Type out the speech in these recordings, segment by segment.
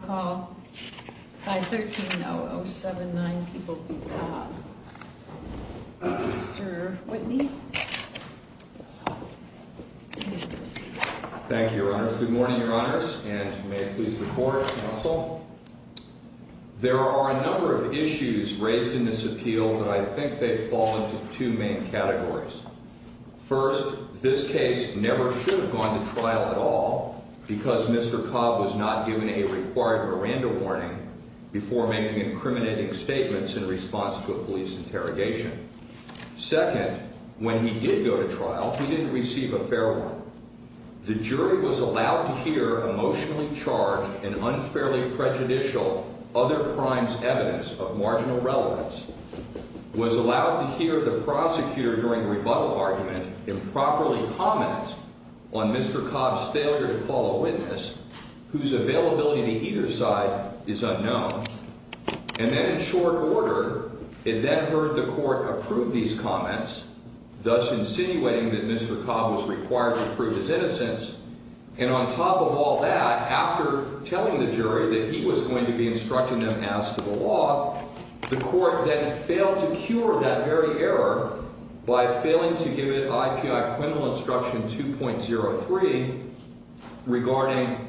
513-0079, People v. Cobb. Mr. Whitney. Thank you, Your Honors. Good morning, Your Honors, and may it please the Court, Counsel. There are a number of issues raised in this appeal, but I think they fall into two main categories. First, this case never should have gone to trial at all because Mr. Cobb was not given a required Miranda warning before making incriminating statements in response to a police interrogation. Second, when he did go to trial, he didn't receive a fair warning. The jury was allowed to hear emotionally charged and unfairly prejudicial other crimes' evidence of marginal relevance, was allowed to hear the prosecutor during the rebuttal argument improperly comment on Mr. Cobb's failure to call a witness, whose availability to either side is unknown, and then in short order, it then heard the Court approve these comments, thus insinuating that Mr. Cobb was required to prove his innocence, and on top of all that, after telling the jury that he was going to be instructed and asked for the law, the Court then failed to cure that very error by failing to give it IPI Criminal Instruction 2.03 regarding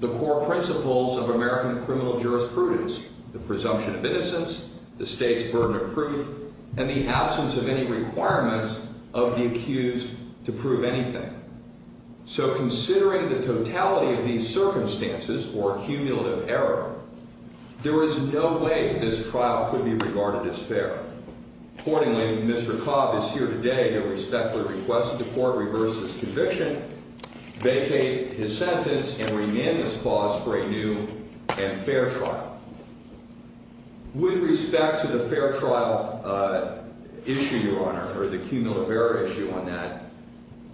the core principles of American criminal jurisprudence, the presumption of innocence, the state's burden of proof, and the absence of any requirements of the accused to prove anything. So considering the totality of these circumstances or cumulative error, there is no way this trial could be regarded as fair. Accordingly, Mr. Cobb is here today to respectfully request that the Court reverse his conviction, vacate his sentence, and remand this clause for a new and fair trial. With respect to the fair trial issue, Your Honor, or the cumulative error issue on that,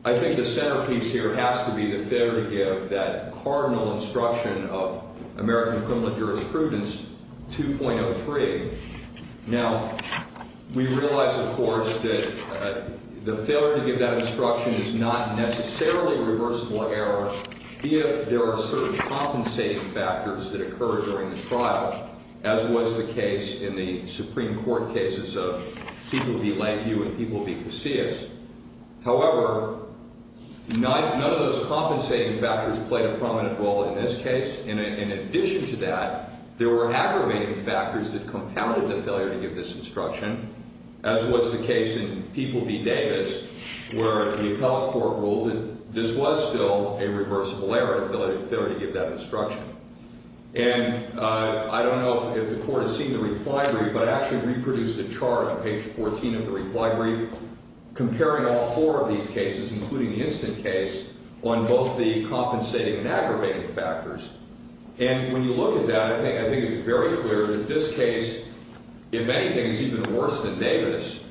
I think the centerpiece here has to be the failure to give that cardinal instruction of American criminal jurisprudence 2.03. Now, we realize, of course, that the failure to give that instruction is not necessarily reversible error if there are certain compensating factors that occur during the trial, as was the case in the Supreme Court cases of People v. Langview and People v. Casillas. However, none of those compensating factors played a prominent role in this case. And in addition to that, there were aggravating factors that compounded the failure to give this instruction, as was the case in People v. Davis, where the appellate court ruled that this was still a reversible error if they were to give that instruction. And I don't know if the Court has seen the reply brief, but I actually reproduced a chart on page 14 of the reply brief comparing all four of these cases, including the instant case, on both the compensating and aggravating factors. And when you look at that, I think it's very clear that this case, if anything, is even worse than Davis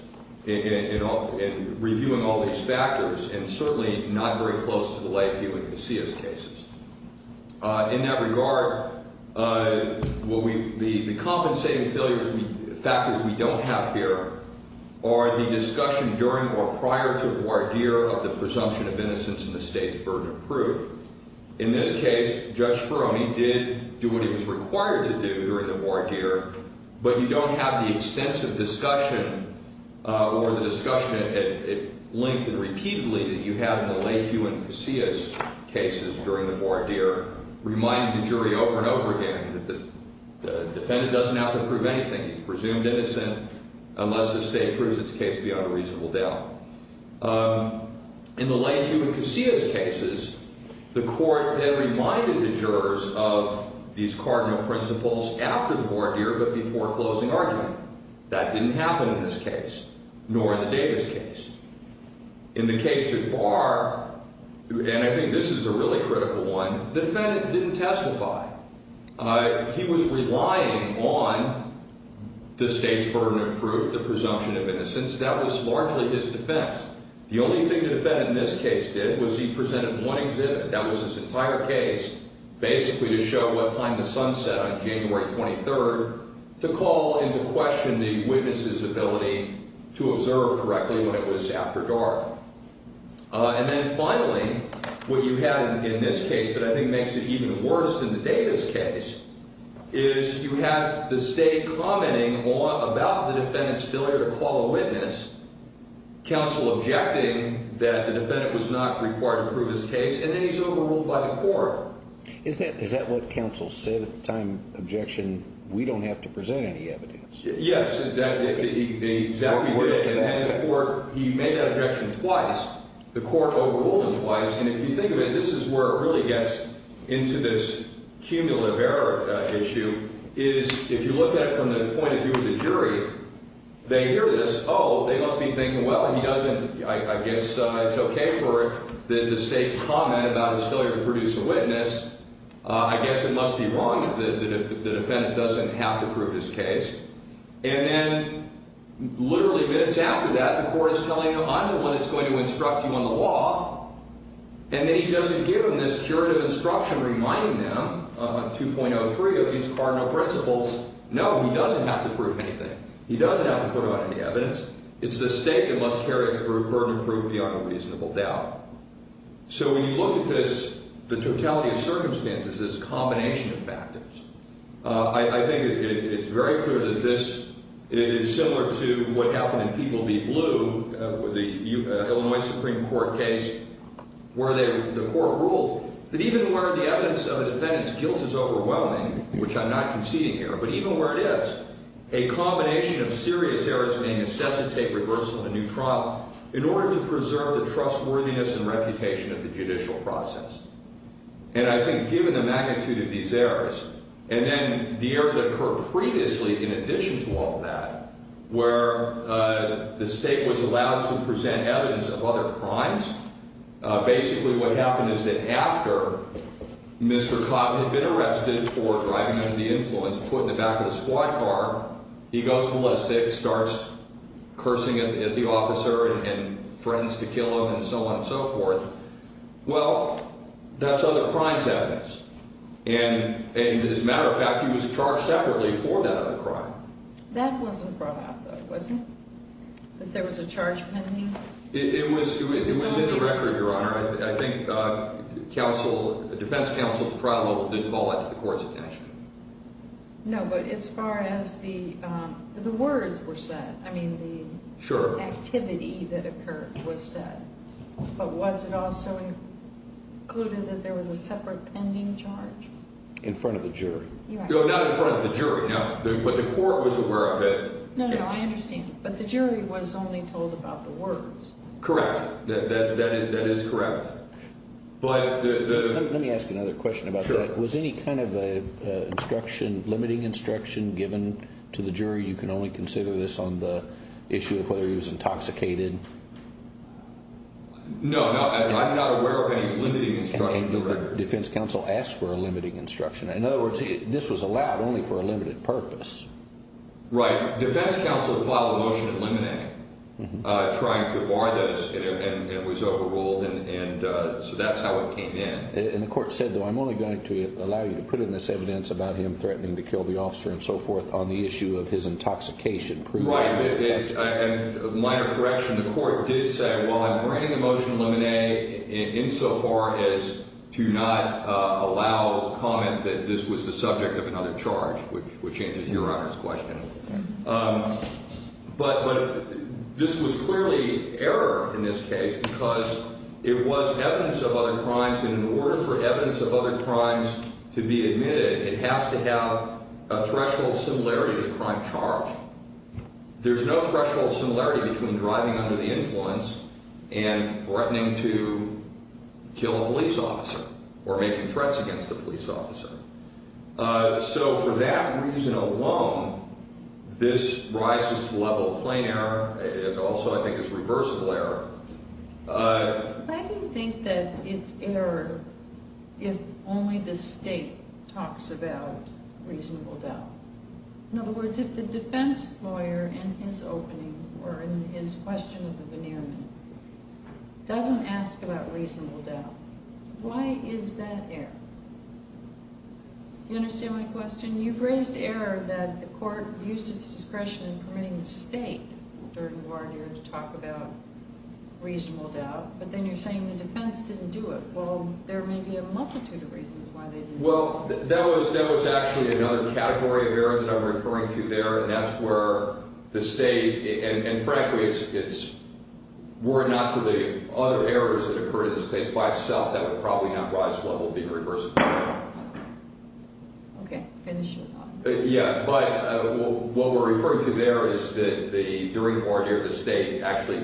in reviewing all these factors, and certainly not very close to the Langview and Casillas cases. In that regard, the compensating factors we don't have here are the discussion during or prior to voir dire of the presumption of innocence in the state's burden of proof. In this case, Judge Speroni did do what he was required to do during the voir dire, but you don't have the extensive discussion or the discussion at length and repeatedly that you have in the Langview and Casillas cases during the voir dire, reminding the jury over and over again that the defendant doesn't have to prove anything. He's presumed innocent unless the state proves its case beyond a reasonable doubt. In the Langview and Casillas cases, the court then reminded the jurors of these cardinal principles after the voir dire, but before closing argument. That didn't happen in this case, nor in the Davis case. In the case that Barr, and I think this is a really critical one, the defendant didn't testify. He was relying on the state's burden of proof, the presumption of innocence. That was largely his defense. The only thing the defendant in this case did was he presented one exhibit. That was his entire case, basically to show what time the sun set on January 23rd, to call into question the witness's ability to observe correctly when it was after dark. And then finally, what you had in this case that I think makes it even worse than the Davis case is you have the state commenting about the defendant's failure to call a witness, counsel objecting that the defendant was not required to prove his case, and then he's overruled by the court. Is that what counsel said at the time? Objection, we don't have to present any evidence. Yes, exactly. He made that objection twice. The court overruled him twice. And if you think of it, this is where it really gets into this cumulative error issue, is if you look at it from the point of view of the jury, they hear this, oh, they must be thinking, well, he doesn't, I guess it's okay for the state to comment about his failure to produce a witness. I guess it must be wrong that the defendant doesn't have to prove his case. And then literally minutes after that, the court is telling him, I'm the one that's going to instruct you on the law, and then he doesn't give them this curative instruction reminding them, 2.03 of these cardinal principles, no, he doesn't have to prove anything. He doesn't have to put out any evidence. It's the state that must carry its burden of proof beyond a reasonable doubt. So when you look at this, the totality of circumstances, this combination of factors, I think it's very clear that this is similar to what happened in People v. Blue, the Illinois Supreme Court case, where the court ruled that even where the evidence of a defendant's guilt is overwhelming, which I'm not conceding here, but even where it is, a combination of serious errors may necessitate reversal in a new trial in order to preserve the trustworthiness and reputation of the judicial process. And I think given the magnitude of these errors, and then the error that occurred previously in addition to all that, where the state was allowed to present evidence of other crimes, basically what happened is that after Mr. Cotton had been arrested for driving under the influence, put in the back of the squad car, he goes holistic, starts cursing at the officer and threatens to kill him and so on and so forth. Well, that's other crimes evidence. And as a matter of fact, he was charged separately for that other crime. That wasn't brought up, though, was it? That there was a charge pending? It was in the record, Your Honor. I think defense counsel at the trial level didn't call that to the court's attention. No, but as far as the words were said, I mean, the activity that occurred was said. But was it also included that there was a separate pending charge? In front of the jury. No, not in front of the jury. No, but the court was aware of it. No, no, I understand. But the jury was only told about the words. Correct. That is correct. Let me ask you another question about that. Was any kind of instruction, limiting instruction given to the jury? You can only consider this on the issue of whether he was intoxicated. No, I'm not aware of any limiting instruction. The defense counsel asked for a limiting instruction. In other words, this was allowed only for a limited purpose. Right. Defense counsel filed a motion eliminating, trying to bar this, and it was overruled. And so that's how it came in. And the court said, though, I'm only going to allow you to put in this evidence about him threatening to kill the officer and so forth on the issue of his intoxication. Right. And a minor correction, the court did say, well, I'm granting the motion to eliminate insofar as to not allow comment that this was the subject of another charge, which answers Your Honor's question. But this was clearly error in this case because it was evidence of other crimes. And in order for evidence of other crimes to be admitted, it has to have a threshold similarity to the crime charged. There's no threshold similarity between driving under the influence and threatening to kill a police officer or making threats against a police officer. So for that reason alone, this rises to the level of plain error. It also, I think, is reversible error. Why do you think that it's error if only the state talks about reasonable doubt? In other words, if the defense lawyer in his opening or in his question of the veneerment doesn't ask about reasonable doubt, why is that error? Do you understand my question? You've raised error that the court used its discretion in permitting the state to talk about reasonable doubt, but then you're saying the defense didn't do it. Well, there may be a multitude of reasons why they didn't do it. Well, that was actually another category of error that I'm referring to there, and that's where the state, and frankly, were it not for the other errors that occurred in this case by itself, that would probably not rise to the level of being reversible error. Okay. Finish your thought. Yeah, but what we're referring to there is that the jury court here, the state, actually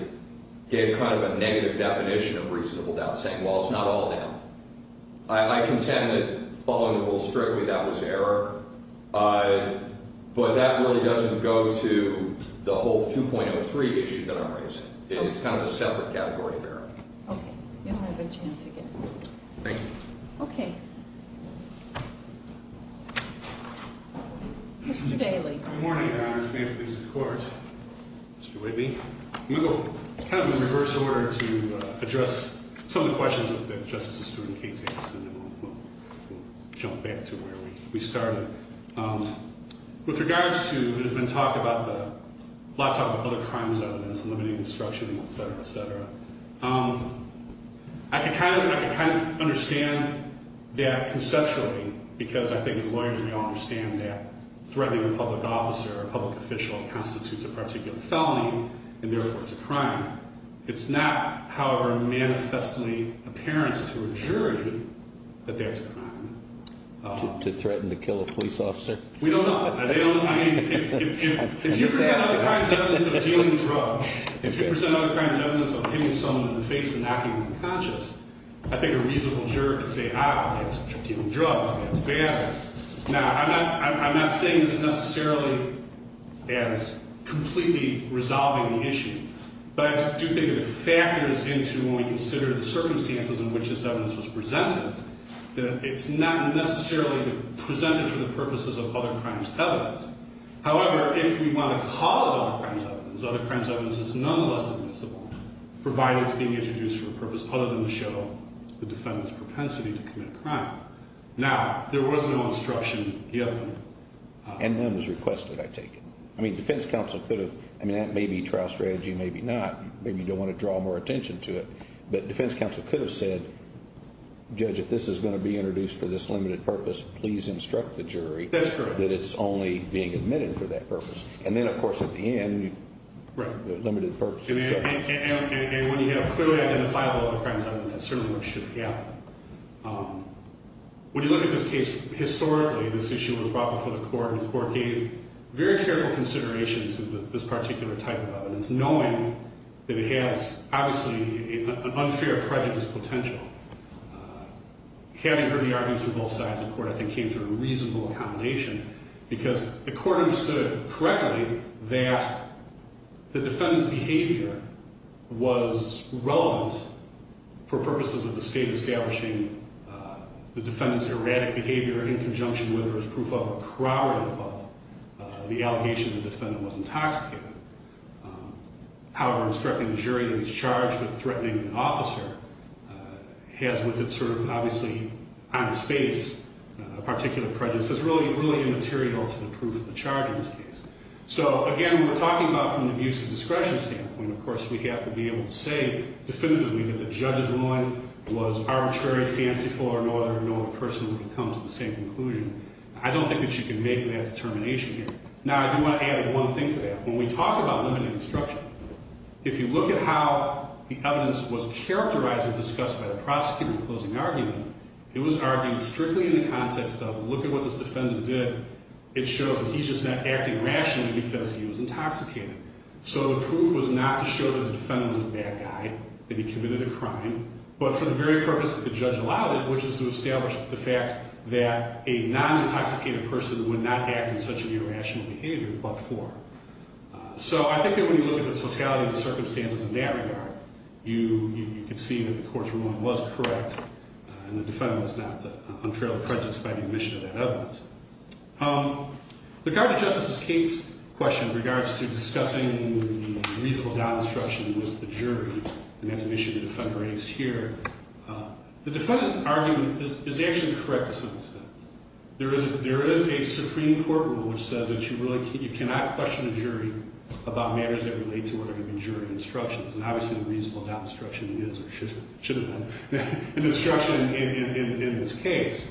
gave kind of a negative definition of reasonable doubt, saying, well, it's not all doubt. I contend that, following the rule strictly, that was error, but that really doesn't go to the whole 2.03 issue that I'm raising. It's kind of a separate category of error. Okay. You don't have a chance again. Thank you. Okay. Mr. Daley. Good morning, Your Honors. May it please the Court. Mr. Whitley. I'm going to go kind of in reverse order to address some of the questions that Justice Esterwood and Kate's asked, and then we'll jump back to where we started. With regards to, there's been talk about the laptop of other crimes evidence, limiting instructions, et cetera, et cetera. I can kind of understand that conceptually, because I think as lawyers we all understand that threatening a public officer or a public official constitutes a particular felony, and therefore it's a crime. It's not, however, manifestly apparent to a jury that that's a crime. To threaten to kill a police officer? We don't know. They don't, I mean, if you present other crimes evidence of dealing drugs, if you present other crimes evidence of hitting someone in the face and knocking them unconscious, I think a reasonable jury could say, ah, that's dealing drugs, that's bad. Now, I'm not saying this necessarily as completely resolving the issue, but I do think it factors into when we consider the circumstances in which this evidence was presented, that it's not necessarily presented for the purposes of other crimes evidence. However, if we want to call it other crimes evidence, other crimes evidence is nonetheless admissible, provided it's being introduced for a purpose other than to show the defendant's propensity to commit a crime. Now, there was no instruction given. And none was requested, I take it. I mean, defense counsel could have, I mean, that may be trial strategy, maybe not. Maybe you don't want to draw more attention to it, but defense counsel could have said, judge, if this is going to be introduced for this limited purpose, please instruct the jury that it's only being admitted for that purpose. And then, of course, at the end, the limited purpose instruction. And when you have clearly identifiable other crimes evidence, that certainly should be out. When you look at this case historically, this issue was brought before the court, and the court gave very careful consideration to this particular type of evidence, knowing that it has, obviously, an unfair prejudice potential. Having heard the arguments from both sides of the court, I think, came to a reasonable accommodation, because the court understood correctly that the defendant's behavior was relevant for purposes of the state establishing the defendant's erratic behavior in conjunction with or as proof of or corroborative of the allegation the defendant was intoxicated. However, instructing the jury that it's charged with threatening an officer has with it, obviously, on its face a particular prejudice. It's really immaterial to the proof of the charge in this case. So, again, when we're talking about from an abuse of discretion standpoint, of course, we have to be able to say definitively that the judge's ruling was arbitrary, fanciful, or no other person would have come to the same conclusion. I don't think that you can make that determination here. Now, I do want to add one thing to that. When we talk about limited instruction, if you look at how the evidence was characterized and discussed by the prosecutor in the closing argument, it was argued strictly in the context of, look at what this defendant did. It shows that he's just not acting rationally because he was intoxicated. So the proof was not to show that the defendant was a bad guy, that he committed a crime, but for the very purpose that the judge allowed it, which is to establish the fact that a non-intoxicated person would not act in such an irrational behavior but for. So I think that when you look at the totality of the circumstances in that regard, you can see that the court's ruling was correct and the defendant was not unfairly prejudiced by the admission of that evidence. With regard to Justice Kate's question in regards to discussing the reasonable doubt instruction with the jury, and that's an issue the defendant raised here, the defendant's argument is actually correct to some extent. There is a Supreme Court rule which says that you cannot question a jury about matters that relate to what are even jury instructions, and obviously the reasonable doubt instruction is or should have been an instruction in this case.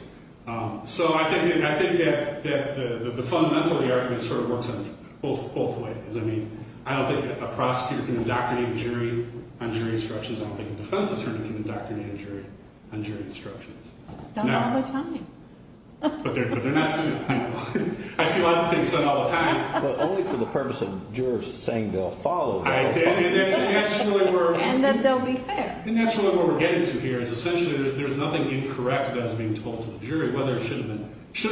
So I think that the fundamental of the argument sort of works on both ways. I mean, I don't think a prosecutor can indoctrinate a jury on jury instructions. I don't think a defense attorney can indoctrinate a jury on jury instructions. No. Not all the time. But they're not – I see lots of things done all the time. But only for the purpose of jurors saying they'll follow. And that's really where we're – And that they'll be fair. And that's really where we're getting to here is essentially there's nothing incorrect that is being told to the jury, whether it should have been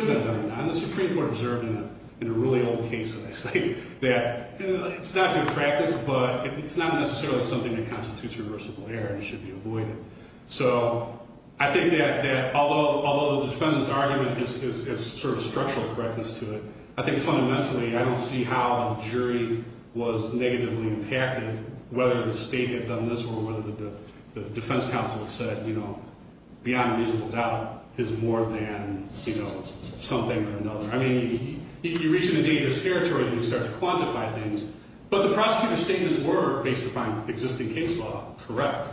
done or not. And the Supreme Court observed in a really old case, as I say, that it's not good practice, but it's not necessarily something that constitutes reversible error and should be avoided. So I think that although the defendant's argument has sort of structural correctness to it, I think fundamentally I don't see how the jury was negatively impacted, whether the state had done this or whether the defense counsel had said, you know, beyond reasonable doubt is more than, you know, something or another. I mean, you reach into dangerous territory and you start to quantify things. But the prosecutor's statements were, based upon existing case law, correct.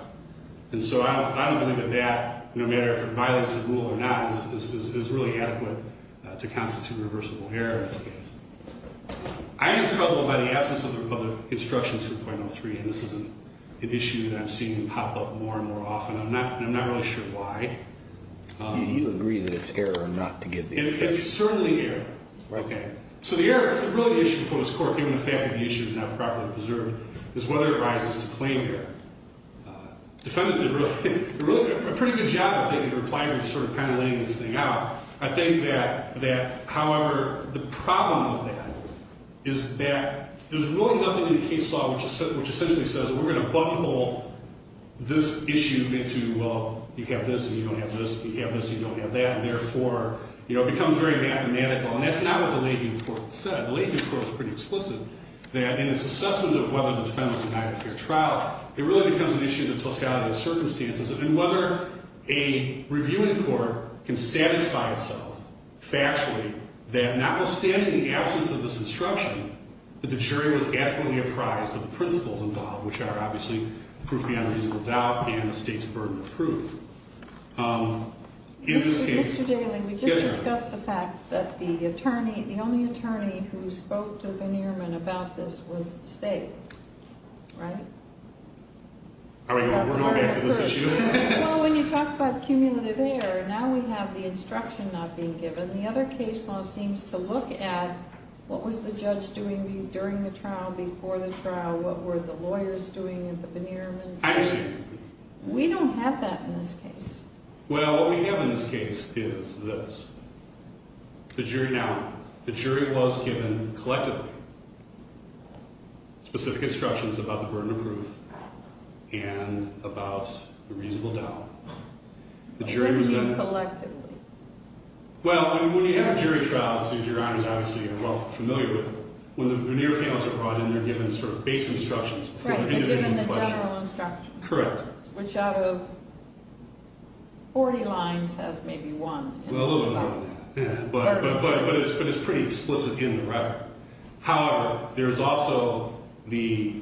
And so I don't believe that that, no matter if it violates the rule or not, is really adequate to constitute reversible error. I am troubled by the absence of the Republic of Instruction 2.03, and this is an issue that I'm seeing pop up more and more often. I'm not really sure why. Do you agree that it's error or not to give the instruction? It's certainly error. Okay. So the error is really the issue before this Court, given the fact that the issue is not properly preserved, is whether it rises to claim error. Defendants did really a pretty good job, I think, in replying to sort of kind of laying this thing out. I think that, however, the problem with that is that there's really nothing in the case law which essentially says we're going to bungle this issue into, well, you have this and you don't have this, you have this and you don't have that, and therefore, you know, it becomes very mathematical. And that's not what the Leahy report said. The Leahy report was pretty explicit that in its assessment of whether the defendant's denied a fair trial, it really becomes an issue of the totality of circumstances and whether a reviewing court can satisfy itself factually that notwithstanding the absence of this instruction, that the jury was adequately apprised of the principles involved, which are obviously proof beyond reasonable doubt and the State's burden of proof. In this case, yes, ma'am. Mr. Daley, we just discussed the fact that the attorney, the only attorney who spoke to Banneerman about this was the State, right? Are we going back to this issue? Well, when you talk about cumulative error, now we have the instruction not being given. The other case law seems to look at what was the judge doing during the trial, before the trial, what were the lawyers doing at the Banneerman's. I understand. We don't have that in this case. Well, what we have in this case is this. Now, the jury was given collectively specific instructions about the burden of proof and about the reasonable doubt. Collectively. Well, when you have a jury trial, as your honors obviously are well familiar with, when the veneer panels are brought in, they're given sort of base instructions. Right, they're given the general instructions. Correct. Which out of 40 lines has maybe one. Well, a little bit more than that. But it's pretty explicit in the record. However, there's also the,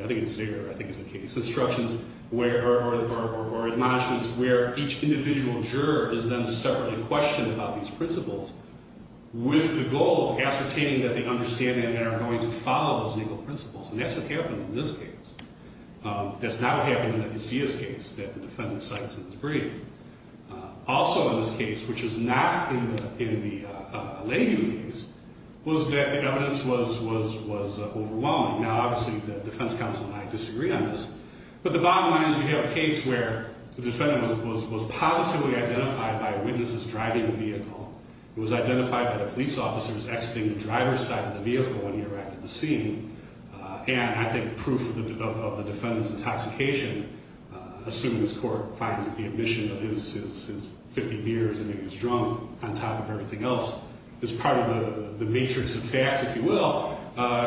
I think it's zero, I think is the case, instructions where, or admonishments where each individual juror is then separately questioned about these principles with the goal of ascertaining that they understand and are going to follow those legal principles. And that's what happened in this case. That's not what happened in the Casillas case, that the defendant cites in the debrief. Also in this case, which is not in the Alayu case, was that the evidence was overwhelming. Now, obviously the defense counsel and I disagree on this, but the bottom line is you have a case where the defendant was positively identified by a witness as driving the vehicle. It was identified by the police officer who was exiting the driver's side of the vehicle when he arrived at the scene. And I think proof of the defendant's intoxication, assuming this court finds that the admission of his 50 beers and he was drunk on top of everything else, is part of the matrix of facts, if you will,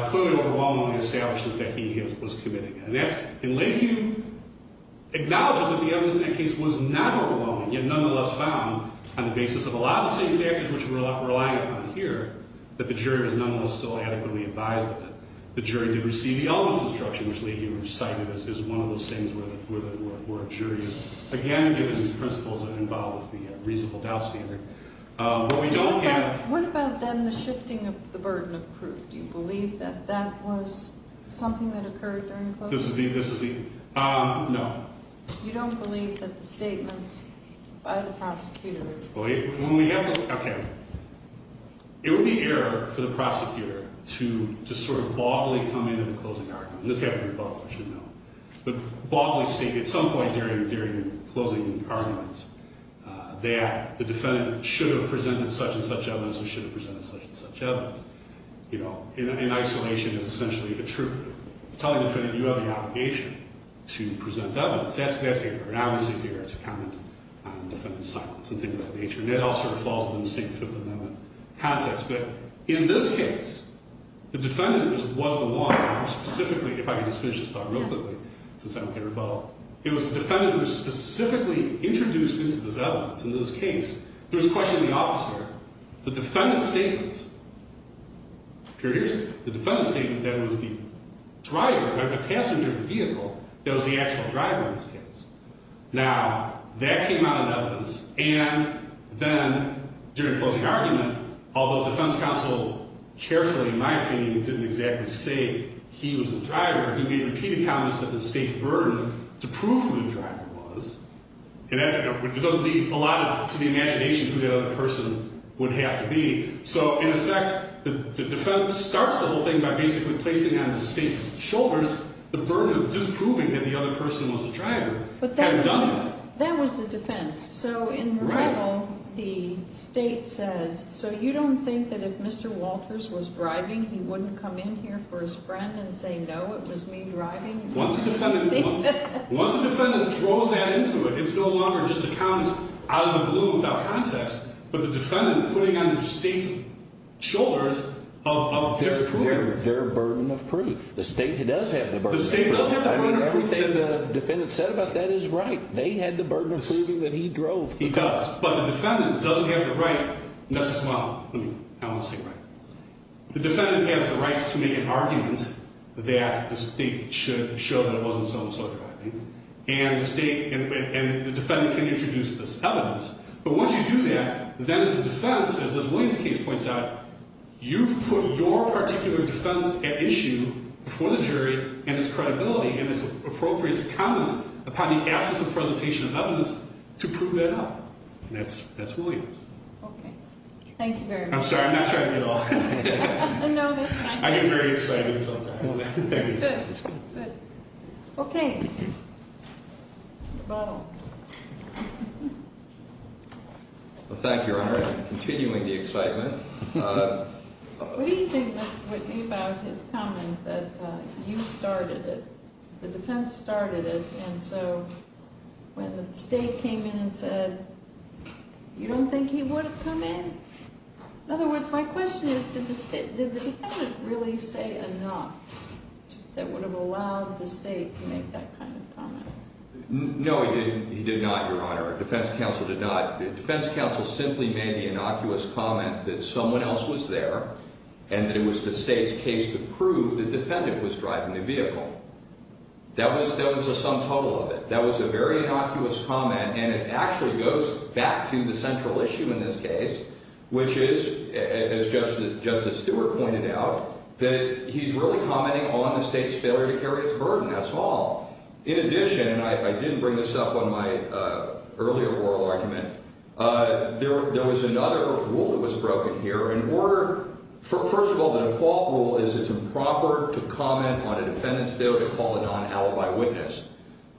clearly overwhelmingly establishes that he was committing it. And Alayu acknowledges that the evidence in that case was not overwhelming, yet nonetheless found on the basis of a lot of the same factors which we're relying upon here, that the jury was nonetheless still adequately advised of it. The jury did receive the elements of instruction, which Leahy cited as one of those things where a jury is, again, given these principles and involved with the reasonable doubt standard. What we don't have- What about then the shifting of the burden of proof? Do you believe that that was something that occurred during closing? This is the- No. You don't believe that the statements by the prosecutor- Well, when we have to- Okay. It would be error for the prosecutor to sort of baldly come in at the closing argument. This happened in Buffalo. You should know. But baldly state at some point during closing arguments that the defendant should have presented such and such evidence or should have presented such and such evidence. You know, in isolation is essentially the truth. It's telling the defendant you have the obligation to present evidence. That's an obvious thing to hear, to comment on the defendant's silence and things of that nature. And that all sort of falls within the same Fifth Amendment context. But in this case, the defendant was the one who specifically- If I could just finish this thought real quickly since I'm here in Buffalo. It was the defendant who was specifically introduced into this evidence. In this case, there was a question of the officer. The defendant's statements- The passenger of the vehicle that was the actual driver in this case. Now, that came out in evidence. And then during closing argument, although defense counsel carefully, in my opinion, didn't exactly say he was the driver, he made repeated comments that the state's burden to prove who the driver was. And that doesn't leave a lot to the imagination who that other person would have to be. So, in effect, the defendant starts the whole thing by basically placing it on the state's shoulders. The burden of disproving that the other person was the driver had done it. That was the defense. So, in rebel, the state says, so you don't think that if Mr. Walters was driving, he wouldn't come in here for his friend and say, no, it was me driving? Once the defendant throws that into it, it's no longer just a count out of the blue without context. But the defendant putting it on the state's shoulders of their provenance. Their burden of proof. The state does have the burden of proof. The state does have the burden of proof. I mean, everything the defendant said about that is right. They had the burden of proving that he drove. He does. But the defendant doesn't have the right necessarily. I want to say right. The defendant has the right to make an argument that the state should show that it wasn't so-and-so driving. And the defendant can introduce this evidence. But once you do that, then it's the defense, as this Williams case points out, you've put your particular defense at issue for the jury and its credibility. And it's appropriate to comment upon the absence of presentation of evidence to prove that up. And that's Williams. Okay. Thank you very much. I'm sorry. I'm not trying to get all. No, that's fine. I get very excited sometimes. That's good. Good. Okay. Your bottle. Thank you, Your Honor. Continuing the excitement. What do you think, Mr. Whitney, about his comment that you started it, the defense started it, and so when the state came in and said, you don't think he would have come in? In other words, my question is, did the defendant really say enough that would have allowed the state to make that kind of comment? No, he did not, Your Honor. Defense counsel did not. Defense counsel simply made the innocuous comment that someone else was there and that it was the state's case to prove the defendant was driving the vehicle. That was the sum total of it. That was a very innocuous comment, and it actually goes back to the central issue in this case, which is, as Justice Stewart pointed out, that he's really commenting on the state's failure to carry its burden. That's all. In addition, and I didn't bring this up on my earlier oral argument, there was another rule that was broken here. First of all, the default rule is it's improper to comment on a defendant's failure to call a non-alibi witness.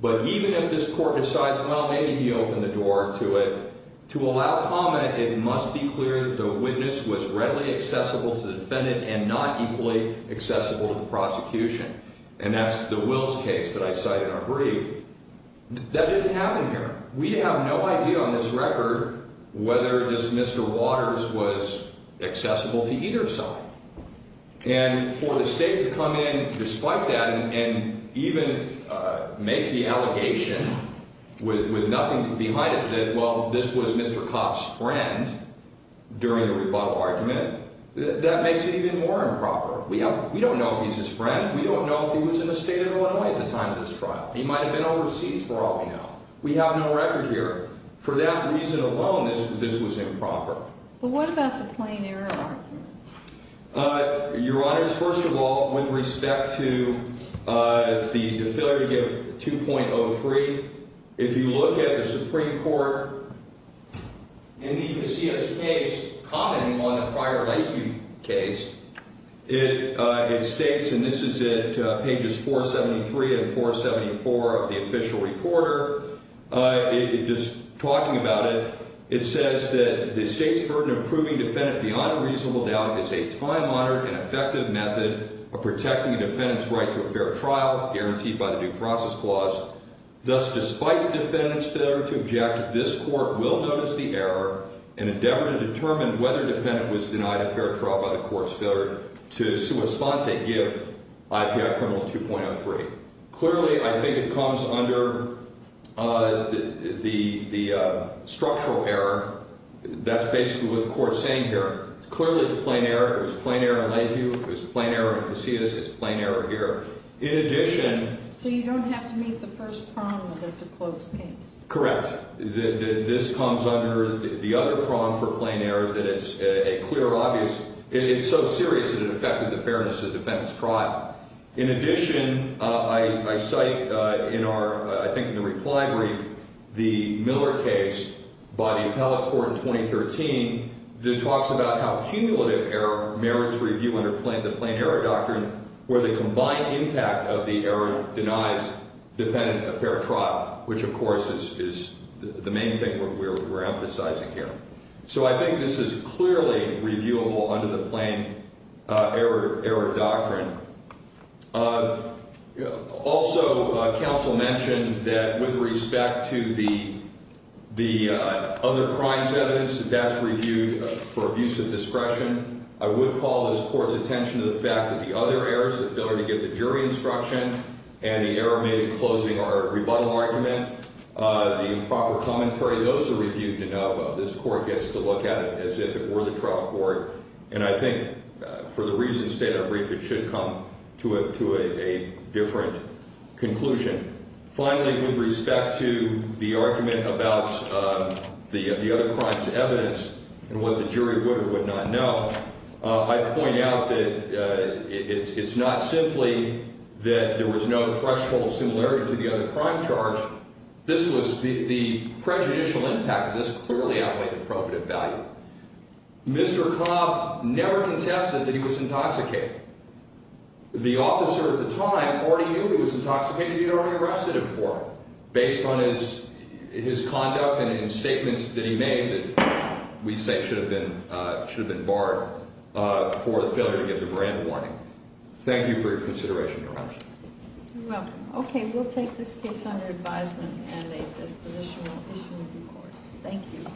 But even if this court decides, well, maybe he opened the door to it, to allow comment, it must be clear that the witness was readily accessible to the defendant and not equally accessible to the prosecution. And that's the Wills case that I cited in our brief. That didn't happen here. We have no idea on this record whether this Mr. Waters was accessible to either side. And for the state to come in despite that and even make the allegation with nothing behind it that, well, this was Mr. Kopp's friend during the rebuttal argument, that makes it even more improper. We don't know if he's his friend. We don't know if he was in the state of Illinois at the time of this trial. He might have been overseas for all we know. We have no record here. For that reason alone, this was improper. But what about the plain error argument? Your Honor, first of all, with respect to the failure to give 2.03, if you look at the Supreme Court, in the Casillas case, commenting on the prior Lakeview case, it states, and this is at pages 473 and 474 of the official reporter, just talking about it, it says that the state's burden of proving defendant beyond a reasonable doubt is a time-honored and effective method of protecting the defendant's right to a fair trial guaranteed by the due process clause. Thus, despite the defendant's failure to object, this Court will notice the error and endeavor to determine whether the defendant was denied a fair trial by the Court's failure to sua sponte give IPI criminal 2.03. Clearly, I think it comes under the structural error. That's basically what the Court's saying here. It's clearly the plain error. It was a plain error in Lakeview. It was a plain error in Casillas. It's a plain error here. In addition — So you don't have to meet the first prong that that's a closed case. Correct. This comes under the other prong for plain error, that it's a clear, obvious — it's so serious that it affected the fairness of the defendant's trial. In addition, I cite in our — I think in the reply brief the Miller case by the appellate court in 2013 that talks about how cumulative error merits review under the plain error doctrine where the combined impact of the error denies defendant a fair trial, which, of course, is the main thing we're emphasizing here. So I think this is clearly reviewable under the plain error doctrine. Also, counsel mentioned that with respect to the other crimes evidence, that that's reviewed for abuse of discretion. I would call this Court's attention to the fact that the other errors, the failure to give the jury instruction and the error made in closing our rebuttal argument, the improper commentary, those are reviewed enough. This Court gets to look at it as if it were the trial court, and I think for the reasons stated in our brief, it should come to a different conclusion. Finally, with respect to the argument about the other crimes evidence and what the jury would or would not know, I'd point out that it's not simply that there was no threshold similarity to the other crime charge. This was the prejudicial impact of this clearly outweighed the probative value. Mr. Cobb never contested that he was intoxicated. The officer at the time already knew he was intoxicated. He had already arrested him for it based on his conduct and in statements that he made that we say should have been barred for the failure to give the grand warning. Thank you for your consideration, Your Honor. You're welcome. Okay, we'll take this case under advisement and a dispositional issue in due course. Thank you.